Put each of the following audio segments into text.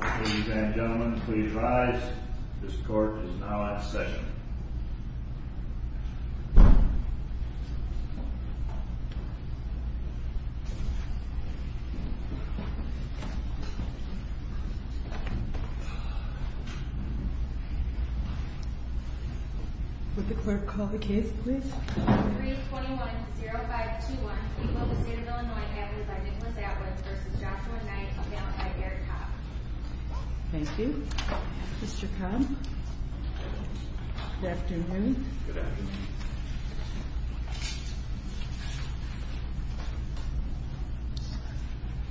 Ladies and gentlemen, please rise. This court is now at session. Would the clerk call the case, please? 321-0521, Equal with State of Illinois, advocate by Nicholas Atwood v. Joshua Knight, compound by Eric Cobb. Thank you. Mr. Cobb, good afternoon. Good afternoon.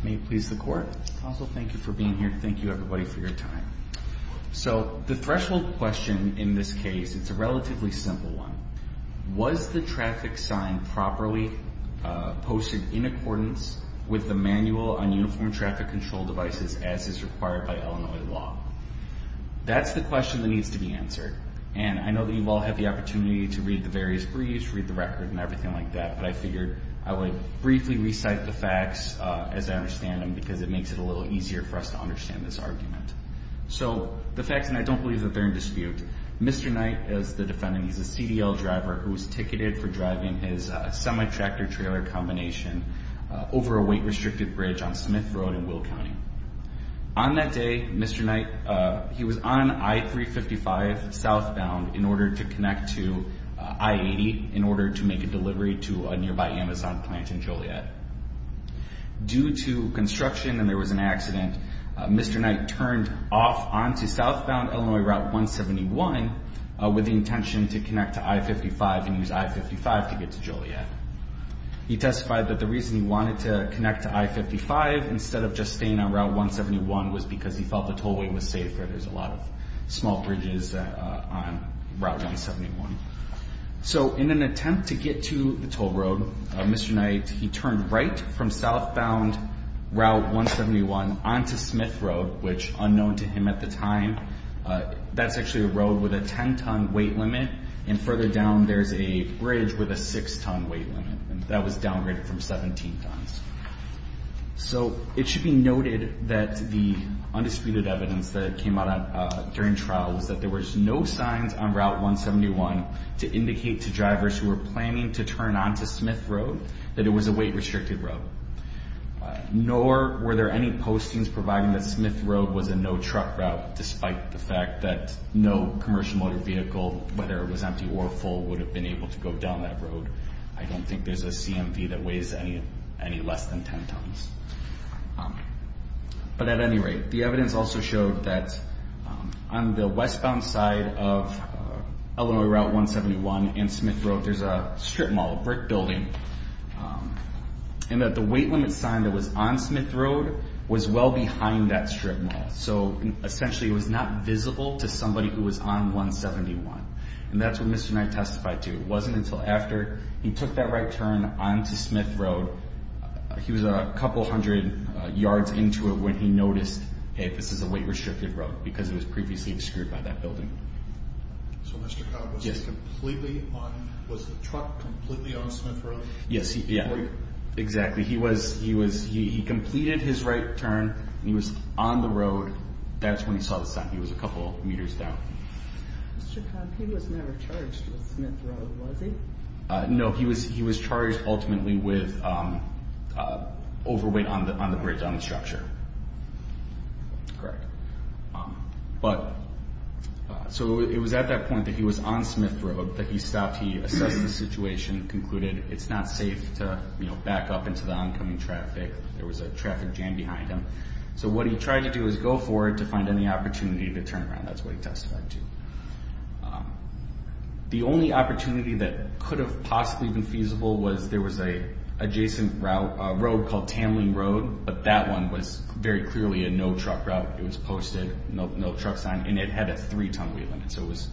May it please the court. Counsel, thank you for being here. Thank you everybody for your time. So, the threshold question in this case, it's a relatively simple one. Was the traffic sign properly posted in accordance with the Manual on Uniform Traffic Control Devices as is required by Illinois law? That's the question that needs to be answered. And I know that you all have the opportunity to read the various briefs, read the record and everything like that, but I figured I would briefly recite the facts as I understand them because it makes it a little easier for us to understand this argument. So, the facts, and I don't believe that they're in dispute. Mr. Knight is the defendant. He's a CDL driver who was ticketed for driving his semi-tractor-trailer combination over a weight-restricted bridge on Smith Road in Will County. On that day, Mr. Knight, he was on I-355 southbound in order to connect to I-80 in order to make a delivery to a nearby Amazon plant in Joliet. Due to construction and there was an accident, Mr. Knight turned off onto southbound Illinois Route 171 with the intention to connect to I-55 and use I-55 to get to Joliet. He testified that the reason he wanted to connect to I-55 instead of just staying on Route 171 was because he felt the tollway was safer. There's a lot of small bridges on Route 171. So, in an attempt to get to the toll road, Mr. Knight, he turned right from southbound Route 171 onto Smith Road, which, unknown to him at the time, that's actually a road with a 10-ton weight limit, and further down there's a bridge with a 6-ton weight limit. That was downgraded from 17 tons. So, it should be noted that the undisputed evidence that came out during trial was that there was no signs on Route 171 to indicate to drivers who were planning to turn onto Smith Road that it was a weight-restricted road, nor were there any postings providing that Smith Road was a no-truck route, despite the fact that no commercial motor vehicle, whether it was empty or full, would have been able to go down that road. I don't think there's a CMV that weighs any less than 10 tons. But, at any rate, the evidence also showed that on the westbound side of Illinois Route 171 and Smith Road, there's a strip mall, a brick building, and that the weight limit sign that was on Smith Road was well behind that strip mall. So, essentially, it was not visible to somebody who was on 171, and that's what Mr. Knight testified to. It wasn't until after he took that right turn onto Smith Road, he was a couple hundred yards into it, when he noticed, hey, this is a weight-restricted road, because it was previously obscured by that building. So, Mr. Cobb was completely on, was the truck completely on Smith Road? Yes, yeah, exactly. He was, he was, he completed his right turn, he was on the road, that's when he saw the sign. He was a couple meters down. Mr. Cobb, he was never charged with Smith Road, was he? No, he was, he was charged ultimately with overweight on the bridge, on the structure. Correct. But, so it was at that point that he was on Smith Road that he stopped, he assessed the situation, concluded it's not safe to, you know, back up into the oncoming traffic, there was a traffic jam behind him. So what he tried to do was go forward to find any opportunity to turn around, that's what he testified to. The only opportunity that could have possibly been feasible was there was an adjacent route, a road called Tamling Road, but that one was very clearly a no-truck route, it was posted, no truck sign, and it had a three-ton weight limit, so it was,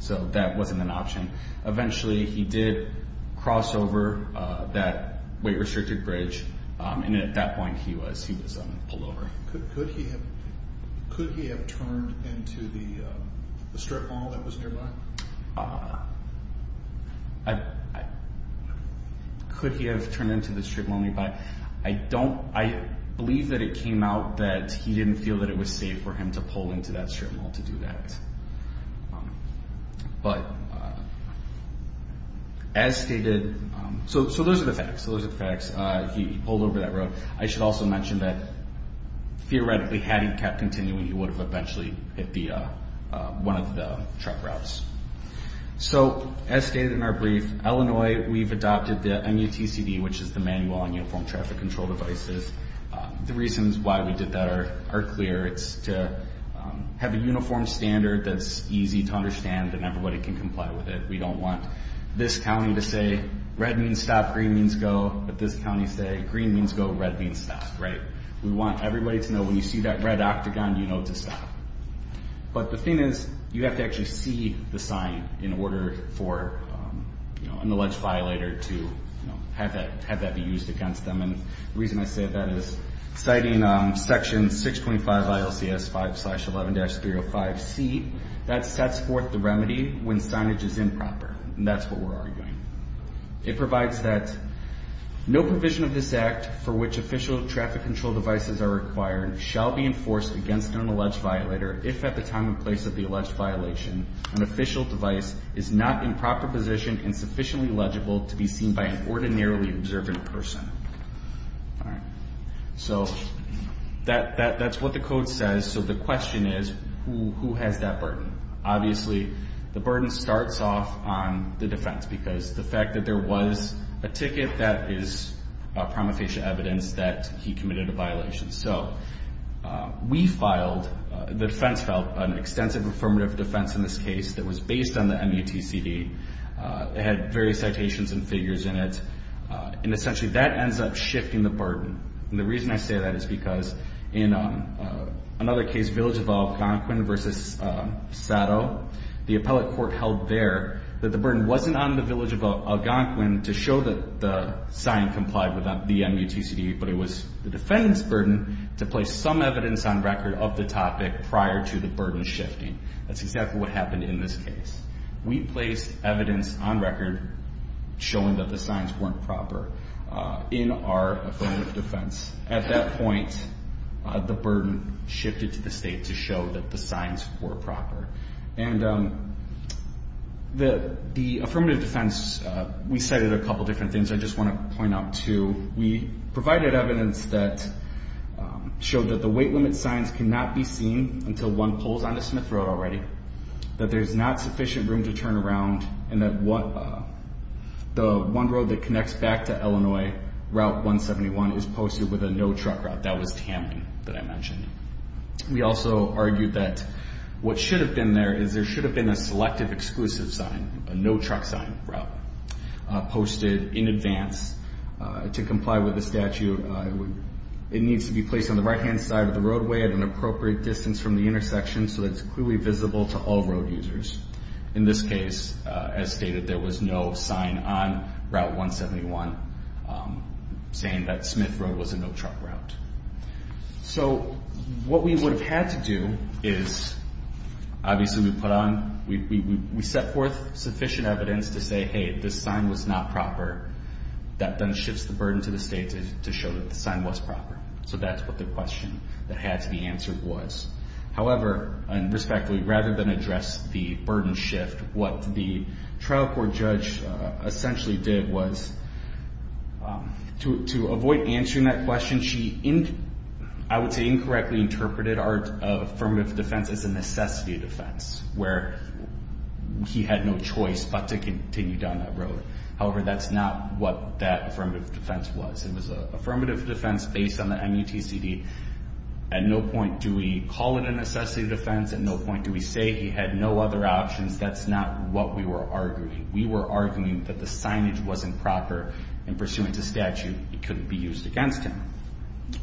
so that wasn't an option. Eventually he did cross over that weight-restricted bridge, and at that point he was pulled over. Could he have turned into the strip mall that was nearby? Could he have turned into the strip mall nearby? I don't, I believe that it came out that he didn't feel that it was safe for him to pull into that strip mall to do that. But as stated, so those are the facts, those are the facts, he pulled over that road. I should also mention that theoretically had he kept continuing, he would have eventually hit one of the truck routes. So as stated in our brief, Illinois, we've adopted the MUTCD, which is the Manual on Uniform Traffic Control Devices. The reasons why we did that are clear. It's to have a uniform standard that's easy to understand and everybody can comply with it. We don't want this county to say red means stop, green means go, but this county say green means go, red means stop, right? We want everybody to know when you see that red octagon, you know to stop. But the thing is, you have to actually see the sign in order for, you know, an alleged violator to have that be used against them. And the reason I say that is citing Section 625 ILCS 5-11-305C, that sets forth the remedy when signage is improper. And that's what we're arguing. It provides that no provision of this act for which official traffic control devices are required shall be enforced against an alleged violator if at the time and place of the alleged violation an official device is not in proper position and sufficiently legible to be seen by an ordinarily observant person. All right. So that's what the code says. So the question is, who has that burden? Obviously, the burden starts off on the defense because the fact that there was a ticket that is prima facie evidence that he committed a violation. So we filed, the defense filed an extensive affirmative defense in this case that was based on the MUTCD. It had various citations and figures in it. And essentially that ends up shifting the burden. And the reason I say that is because in another case, Village of Algonquin v. Sado, the appellate court held there that the burden wasn't on the Village of Algonquin to show that the sign complied with the MUTCD, but it was the defense burden to place some evidence on record of the topic prior to the burden shifting. That's exactly what happened in this case. We placed evidence on record showing that the signs weren't proper in our affirmative defense. At that point, the burden shifted to the state to show that the signs were proper. And the affirmative defense, we cited a couple different things I just want to point out, too. We provided evidence that showed that the weight limit signs cannot be seen until one pulls onto Smith Road already, that there's not sufficient room to turn around, and that the one road that connects back to Illinois, Route 171, is posted with a no-truck route. That was Tamping that I mentioned. We also argued that what should have been there is there should have been a selective exclusive sign, a no-truck sign route posted in advance to comply with the statute. It needs to be placed on the right-hand side of the roadway at an appropriate distance from the intersection so that it's clearly visible to all road users. In this case, as stated, there was no sign on Route 171 saying that Smith Road was a no-truck route. So what we would have had to do is obviously we set forth sufficient evidence to say, hey, this sign was not proper. That then shifts the burden to the state to show that the sign was proper. So that's what the question that had to be answered was. However, and respectfully, rather than address the burden shift, what the trial court judge essentially did was to avoid answering that question, she, I would say, incorrectly interpreted our affirmative defense as a necessity defense where he had no choice but to continue down that road. However, that's not what that affirmative defense was. It was an affirmative defense based on the MUTCD. At no point do we call it a necessity defense. At no point do we say he had no other options. That's not what we were arguing. We were arguing that the signage wasn't proper, and pursuant to statute, it couldn't be used against him,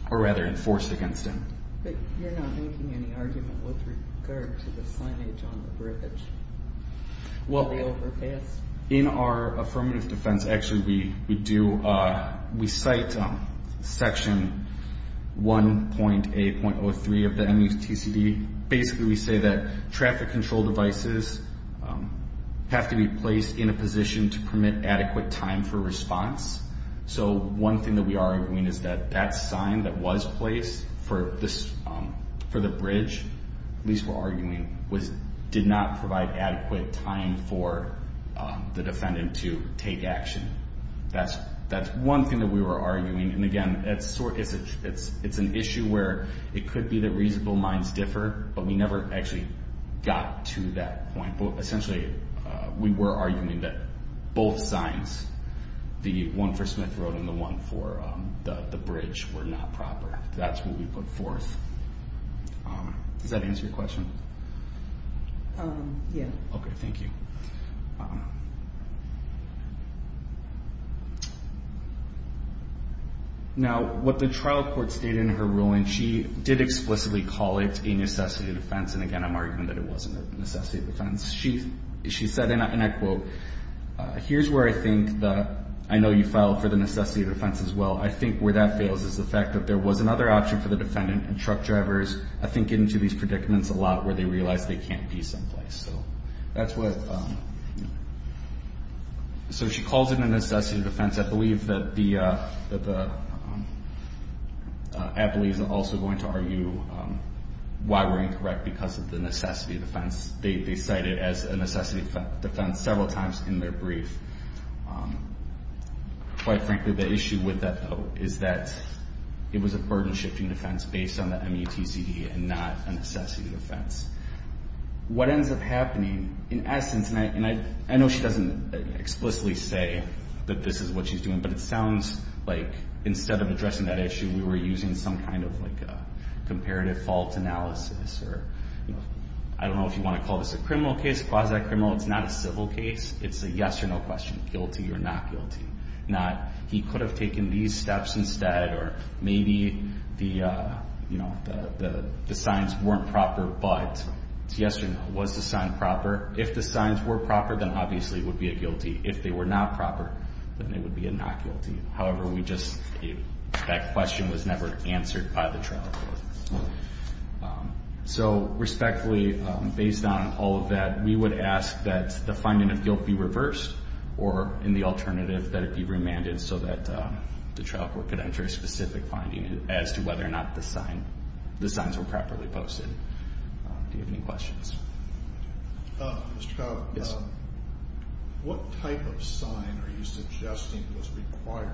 or rather enforced against him. But you're not making any argument with regard to the signage on the bridge. Well, in our affirmative defense, actually we do, we cite Section 1.8.03 of the MUTCD. Basically we say that traffic control devices have to be placed in a position to permit adequate time for response. So one thing that we are arguing is that that sign that was placed for the bridge, at least we're arguing, did not provide adequate time for the defendant to take action. That's one thing that we were arguing. And again, it's an issue where it could be that reasonable minds differ, but we never actually got to that point. Essentially, we were arguing that both signs, the one for Smith Road and the one for the bridge, were not proper. That's what we put forth. Does that answer your question? Yes. Okay, thank you. Now, what the trial court stated in her ruling, she did explicitly call it a necessity of defense, and again I'm arguing that it wasn't a necessity of defense. She said, and I quote, here's where I think the, I know you filed for the necessity of defense as well, I think where that fails is the fact that there was another option for the defendant and truck drivers, I think, get into these predicaments a lot where they realize they can't be someplace. So that's what, so she calls it a necessity of defense. I believe that the, I believe is also going to argue why we're incorrect because of the necessity of defense. They cite it as a necessity of defense several times in their brief. Quite frankly, the issue with that, though, is that it was a burden-shifting defense based on the MUTCD and not a necessity of defense. What ends up happening, in essence, and I know she doesn't explicitly say that this is what she's doing, but it sounds like instead of addressing that issue, we were using some kind of comparative fault analysis. I don't know if you want to call this a criminal case, quasi-criminal. It's not a civil case. It's a yes or no question, guilty or not guilty. Not he could have taken these steps instead or maybe the signs weren't proper, but yes or no. Was the sign proper? If the signs were proper, then obviously it would be a guilty. If they were not proper, then it would be a not guilty. However, we just, that question was never answered by the trial court. So respectfully, based on all of that, we would ask that the finding of guilt be reversed or in the alternative that it be remanded so that the trial court could enter a specific finding as to whether or not the signs were properly posted. Do you have any questions? Mr. Trout. Yes. What type of sign are you suggesting was required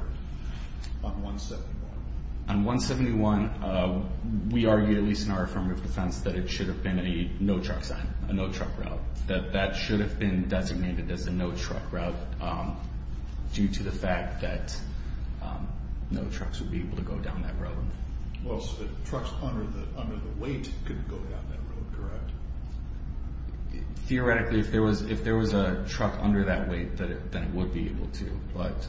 on 171? On 171, we argue, at least in our affirmative defense, that it should have been a no-truck sign, a no-truck route, that that should have been designated as a no-truck route due to the fact that no trucks would be able to go down that road. Well, so the trucks under the weight could go down that road, correct? Theoretically, if there was a truck under that weight, then it would be able to. But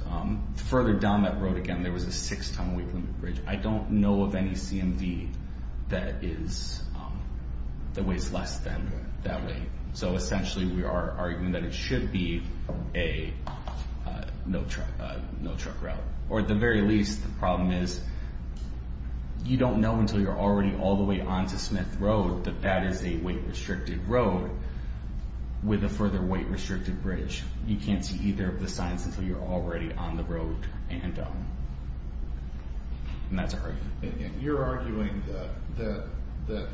further down that road, again, there was a 6-ton weight limit bridge. I don't know of any CMV that weighs less than that weight. So essentially we are arguing that it should be a no-truck route. Or at the very least, the problem is, you don't know until you're already all the way onto Smith Road that that is a weight-restricted road with a further weight-restricted bridge. You can't see either of the signs until you're already on the road. And that's our argument. And you're arguing that the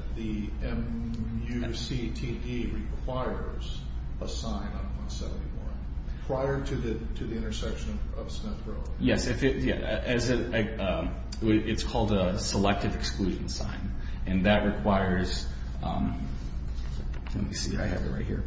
M-U-C-T-D requires a sign on 171 prior to the intersection of Smith Road. Yes. It's called a selective exclusion sign. And that requires—let me see, I have it right here.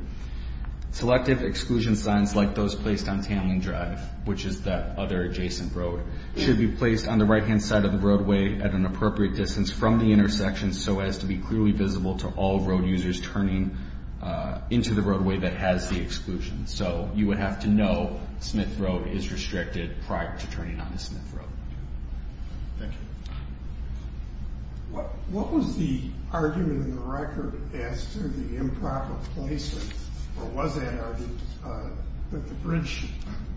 Selective exclusion signs like those placed on Tamling Drive, which is that other adjacent road, should be placed on the right-hand side of the roadway at an appropriate distance from the intersection so as to be clearly visible to all road users turning into the roadway that has the exclusion. So you would have to know Smith Road is restricted prior to turning onto Smith Road. Thank you. What was the argument in the record as to the improper placement, or was that argued, that the bridge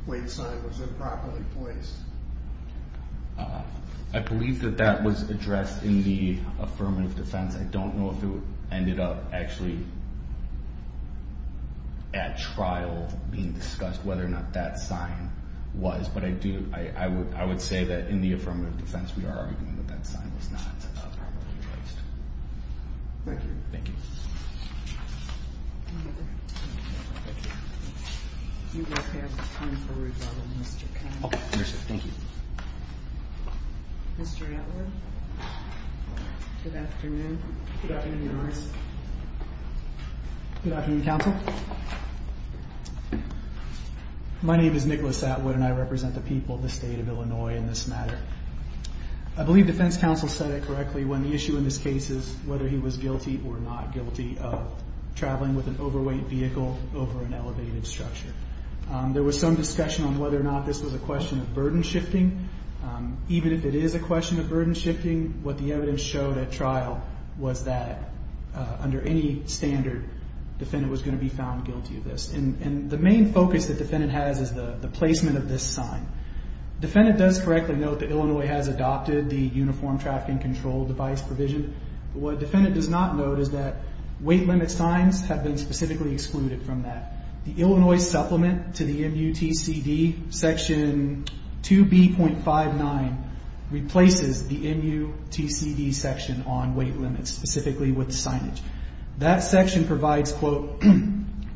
weight sign was improperly placed? I believe that that was addressed in the affirmative defense. I don't know if it ended up actually at trial being discussed whether or not that sign was. But I would say that in the affirmative defense, we are arguing that that sign was not properly placed. Thank you. Thank you. Mr. Atwood, good afternoon. Good afternoon, Your Honor. Good afternoon, Counsel. My name is Nicholas Atwood, and I represent the people of the State of Illinois in this matter. I believe defense counsel said it correctly when the issue in this case is whether he was guilty or not guilty of traveling with an overweight vehicle over an elevated structure. There was some discussion on whether or not this was a question of burden shifting. Even if it is a question of burden shifting, what the evidence showed at trial was that under any standard, defendant was going to be found guilty of this. And the main focus that defendant has is the placement of this sign. Defendant does correctly note that Illinois has adopted the uniform trafficking control device provision. What defendant does not note is that weight limit signs have been specifically excluded from that. The Illinois supplement to the MUTCD, Section 2B.59, replaces the MUTCD section on weight limits, specifically with signage. That section provides, quote,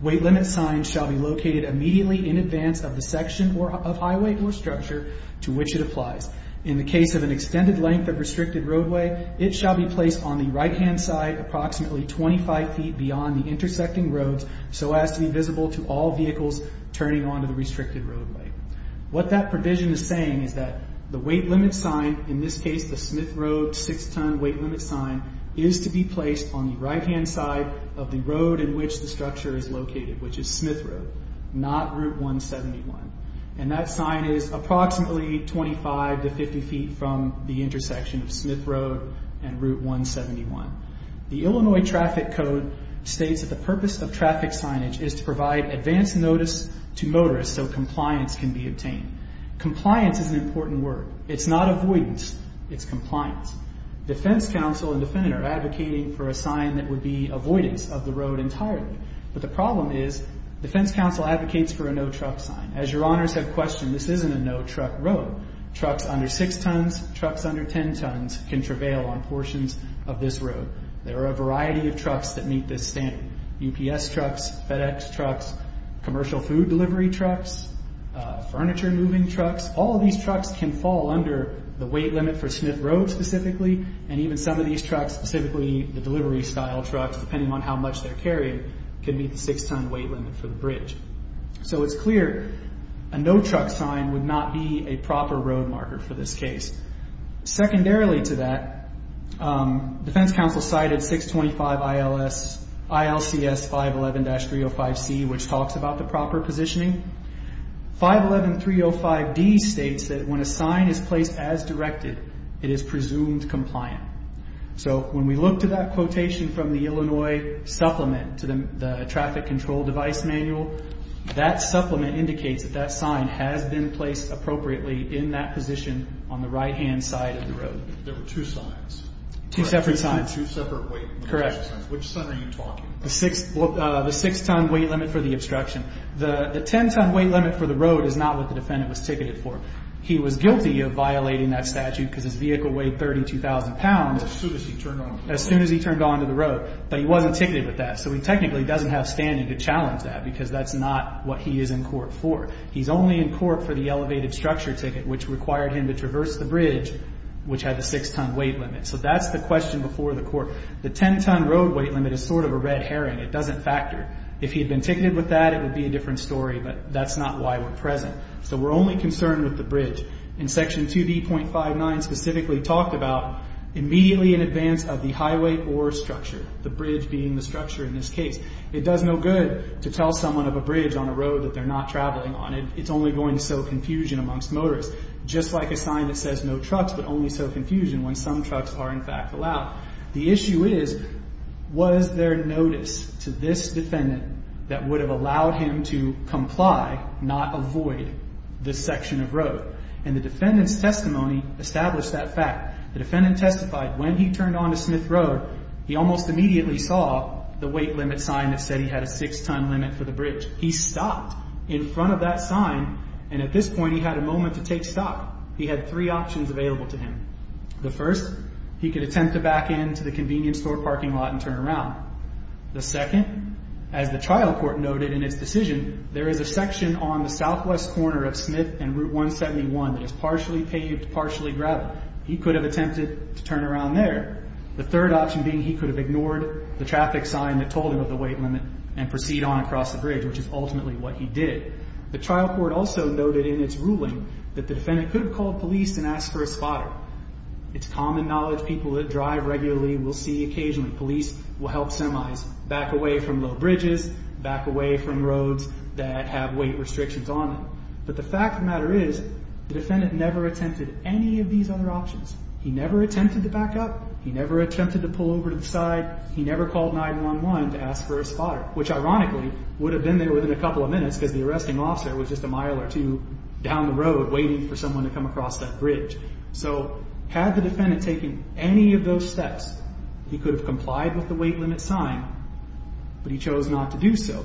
weight limit signs shall be located immediately in advance of the section of highway or structure to which it applies. In the case of an extended length of restricted roadway, it shall be placed on the right-hand side approximately 25 feet beyond the intersecting roads so as to be visible to all vehicles turning onto the restricted roadway. What that provision is saying is that the weight limit sign, in this case the Smith Road 6-ton weight limit sign, is to be placed on the right-hand side of the road in which the structure is located, which is Smith Road, not Route 171. And that sign is approximately 25 to 50 feet from the intersection of Smith Road and Route 171. The Illinois Traffic Code states that the purpose of traffic signage is to provide advance notice to motorists so compliance can be obtained. Compliance is an important word. It's not avoidance. It's compliance. Defense counsel and defendant are advocating for a sign that would be avoidance of the road entirely. But the problem is defense counsel advocates for a no-truck sign. As your honors have questioned, this isn't a no-truck road. Trucks under 6 tons, trucks under 10 tons can travail on portions of this road. There are a variety of trucks that meet this standard. UPS trucks, FedEx trucks, commercial food delivery trucks, furniture moving trucks. All of these trucks can fall under the weight limit for Smith Road specifically, and even some of these trucks, specifically the delivery-style trucks, depending on how much they're carrying, can meet the 6-ton weight limit for the bridge. So it's clear a no-truck sign would not be a proper road marker for this case. Secondarily to that, defense counsel cited 625 ILCS 511-305C, which talks about the proper positioning. 511-305D states that when a sign is placed as directed, it is presumed compliant. So when we look to that quotation from the Illinois supplement to the traffic control device manual, that supplement indicates that that sign has been placed appropriately in that position on the right-hand side of the road. There were two signs. Two separate signs. Two separate weight limits. Correct. Which sign are you talking about? The 6-ton weight limit for the obstruction. The 10-ton weight limit for the road is not what the defendant was ticketed for. He was guilty of violating that statute because his vehicle weighed 32,000 pounds. As soon as he turned onto the road. As soon as he turned onto the road. But he wasn't ticketed with that. So he technically doesn't have standing to challenge that because that's not what he is in court for. He's only in court for the elevated structure ticket, which required him to traverse the bridge, which had the 6-ton weight limit. So that's the question before the court. The 10-ton road weight limit is sort of a red herring. It doesn't factor. If he had been ticketed with that, it would be a different story. But that's not why we're present. So we're only concerned with the bridge. And Section 2B.59 specifically talked about immediately in advance of the highway or structure. The bridge being the structure in this case. It does no good to tell someone of a bridge on a road that they're not traveling on. It's only going to sow confusion amongst motorists. Just like a sign that says no trucks, but only sow confusion when some trucks are, in fact, allowed. The issue is, was there notice to this defendant that would have allowed him to comply, not avoid, this section of road? And the defendant's testimony established that fact. The defendant testified when he turned onto Smith Road, he almost immediately saw the weight limit sign that said he had a 6-ton limit for the bridge. He stopped in front of that sign, and at this point he had a moment to take stock. He had three options available to him. The first, he could attempt to back into the convenience store parking lot and turn around. The second, as the trial court noted in its decision, there is a section on the southwest corner of Smith and Route 171 that is partially paved, partially gravel. He could have attempted to turn around there. The third option being he could have ignored the traffic sign that told him of the weight limit and proceed on across the bridge, which is ultimately what he did. The trial court also noted in its ruling that the defendant could have called police and asked for a spotter. It's common knowledge people that drive regularly will see occasionally police will help semis back away from low bridges, back away from roads that have weight restrictions on them. But the fact of the matter is the defendant never attempted any of these other options. He never attempted to back up. He never attempted to pull over to the side. He never called 911 to ask for a spotter, which ironically would have been there within a couple of minutes because the arresting officer was just a mile or two down the road waiting for someone to come across that bridge. So had the defendant taken any of those steps, he could have complied with the weight limit sign, but he chose not to do so.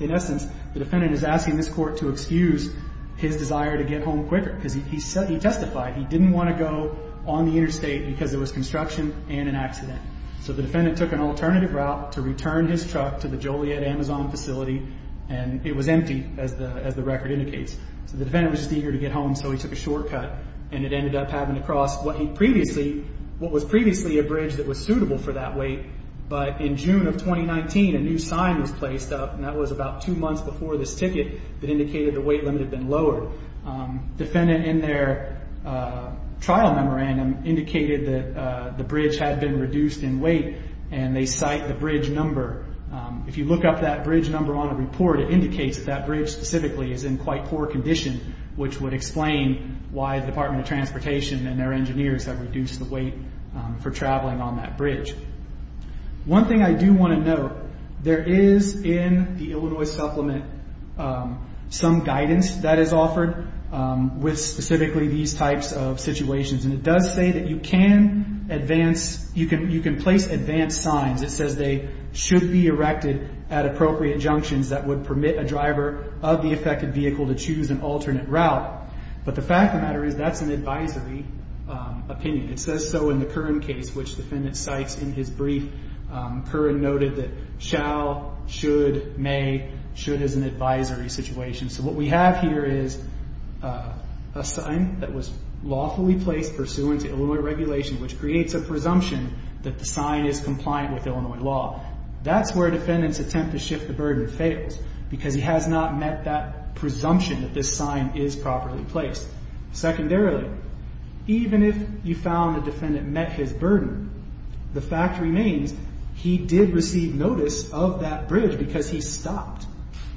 In essence, the defendant is asking this court to excuse his desire to get home quicker because he testified he didn't want to go on the interstate because there was construction and an accident. So the defendant took an alternative route to return his truck to the Joliet Amazon facility, and it was empty, as the record indicates. So the defendant was just eager to get home, so he took a shortcut, and it ended up having to cross what was previously a bridge that was suitable for that weight. But in June of 2019, a new sign was placed up, and that was about two months before this ticket that indicated the weight limit had been lowered. Defendant in their trial memorandum indicated that the bridge had been reduced in weight, and they cite the bridge number. If you look up that bridge number on a report, it indicates that that bridge specifically is in quite poor condition, which would explain why the Department of Transportation and their engineers have reduced the weight for traveling on that bridge. One thing I do want to note, there is, in the Illinois supplement, some guidance that is offered with specifically these types of situations, and it does say that you can place advanced signs. It says they should be erected at appropriate junctions that would permit a driver of the affected vehicle to choose an alternate route. But the fact of the matter is that's an advisory opinion. It says so in the Curran case, which the defendant cites in his brief. Curran noted that shall, should, may, should is an advisory situation. So what we have here is a sign that was lawfully placed pursuant to Illinois regulation, which creates a presumption that the sign is compliant with Illinois law. That's where defendants attempt to shift the burden fails, because he has not met that presumption that this sign is properly placed. Secondarily, even if you found the defendant met his burden, the fact remains he did receive notice of that bridge because he stopped.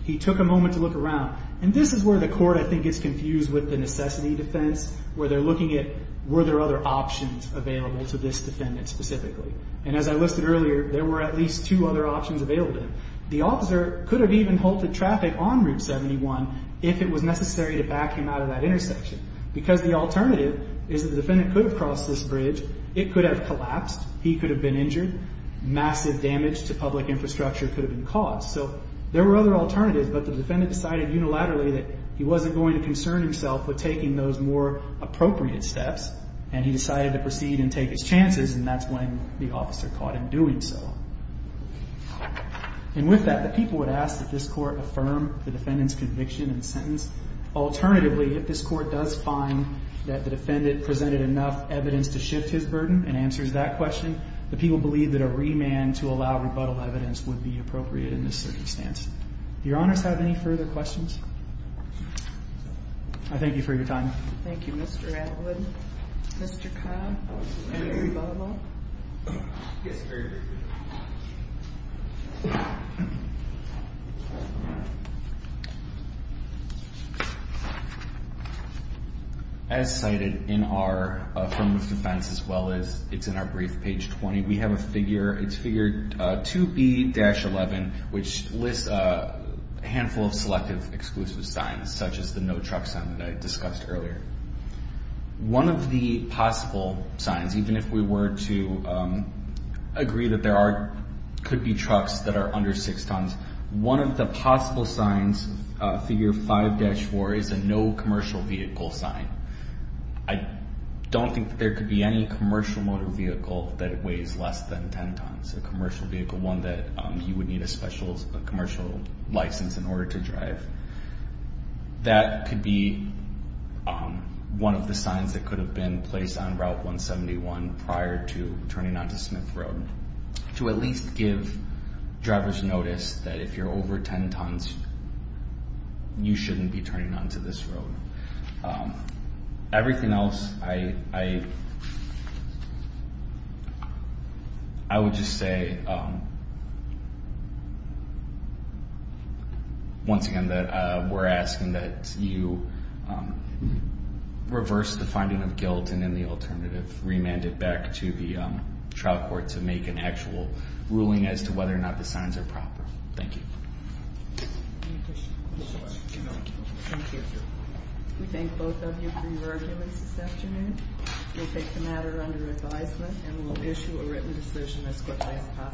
He took a moment to look around. And this is where the court, I think, gets confused with the necessity defense, where they're looking at were there other options available to this defendant specifically. And as I listed earlier, there were at least two other options available to him. The officer could have even halted traffic on Route 71 if it was necessary to back him out of that intersection. Because the alternative is the defendant could have crossed this bridge. It could have collapsed. He could have been injured. Massive damage to public infrastructure could have been caused. So there were other alternatives, but the defendant decided unilaterally that he wasn't going to concern himself with taking those more appropriate steps, and he decided to proceed and take his chances, and that's when the officer caught him doing so. And with that, the people would ask that this court affirm the defendant's conviction and sentence. Alternatively, if this court does find that the defendant presented enough evidence to shift his burden and answers that question, the people believe that a remand to allow rebuttal evidence would be appropriate in this circumstance. Do your honors have any further questions? I thank you for your time. Thank you, Mr. Atwood. Mr. Cobb, any rebuttal? Yes, sir. As cited in our affirmative defense, as well as it's in our brief, page 20, we have a figure, it's figure 2B-11, which lists a handful of selective exclusive signs, such as the no truck sign that I discussed earlier. One of the possible signs, even if we were to agree that there could be trucks that are under 6 tons, one of the possible signs, figure 5-4, is a no commercial vehicle sign. I don't think that there could be any commercial motor vehicle that weighs less than 10 tons, a commercial vehicle, one that you would need a special commercial license in order to drive. That could be one of the signs that could have been placed on Route 171 prior to turning onto Smith Road, to at least give drivers notice that if you're over 10 tons, you shouldn't be turning onto this road. Everything else, I would just say, once again, that we're asking that you reverse the finding of guilt and then the alternative, remand it back to the trial court to make an actual ruling as to whether or not the signs are proper. Thank you. We thank both of you for your arguments this afternoon. We'll take the matter under advisement and we'll issue a written decision as quickly as possible.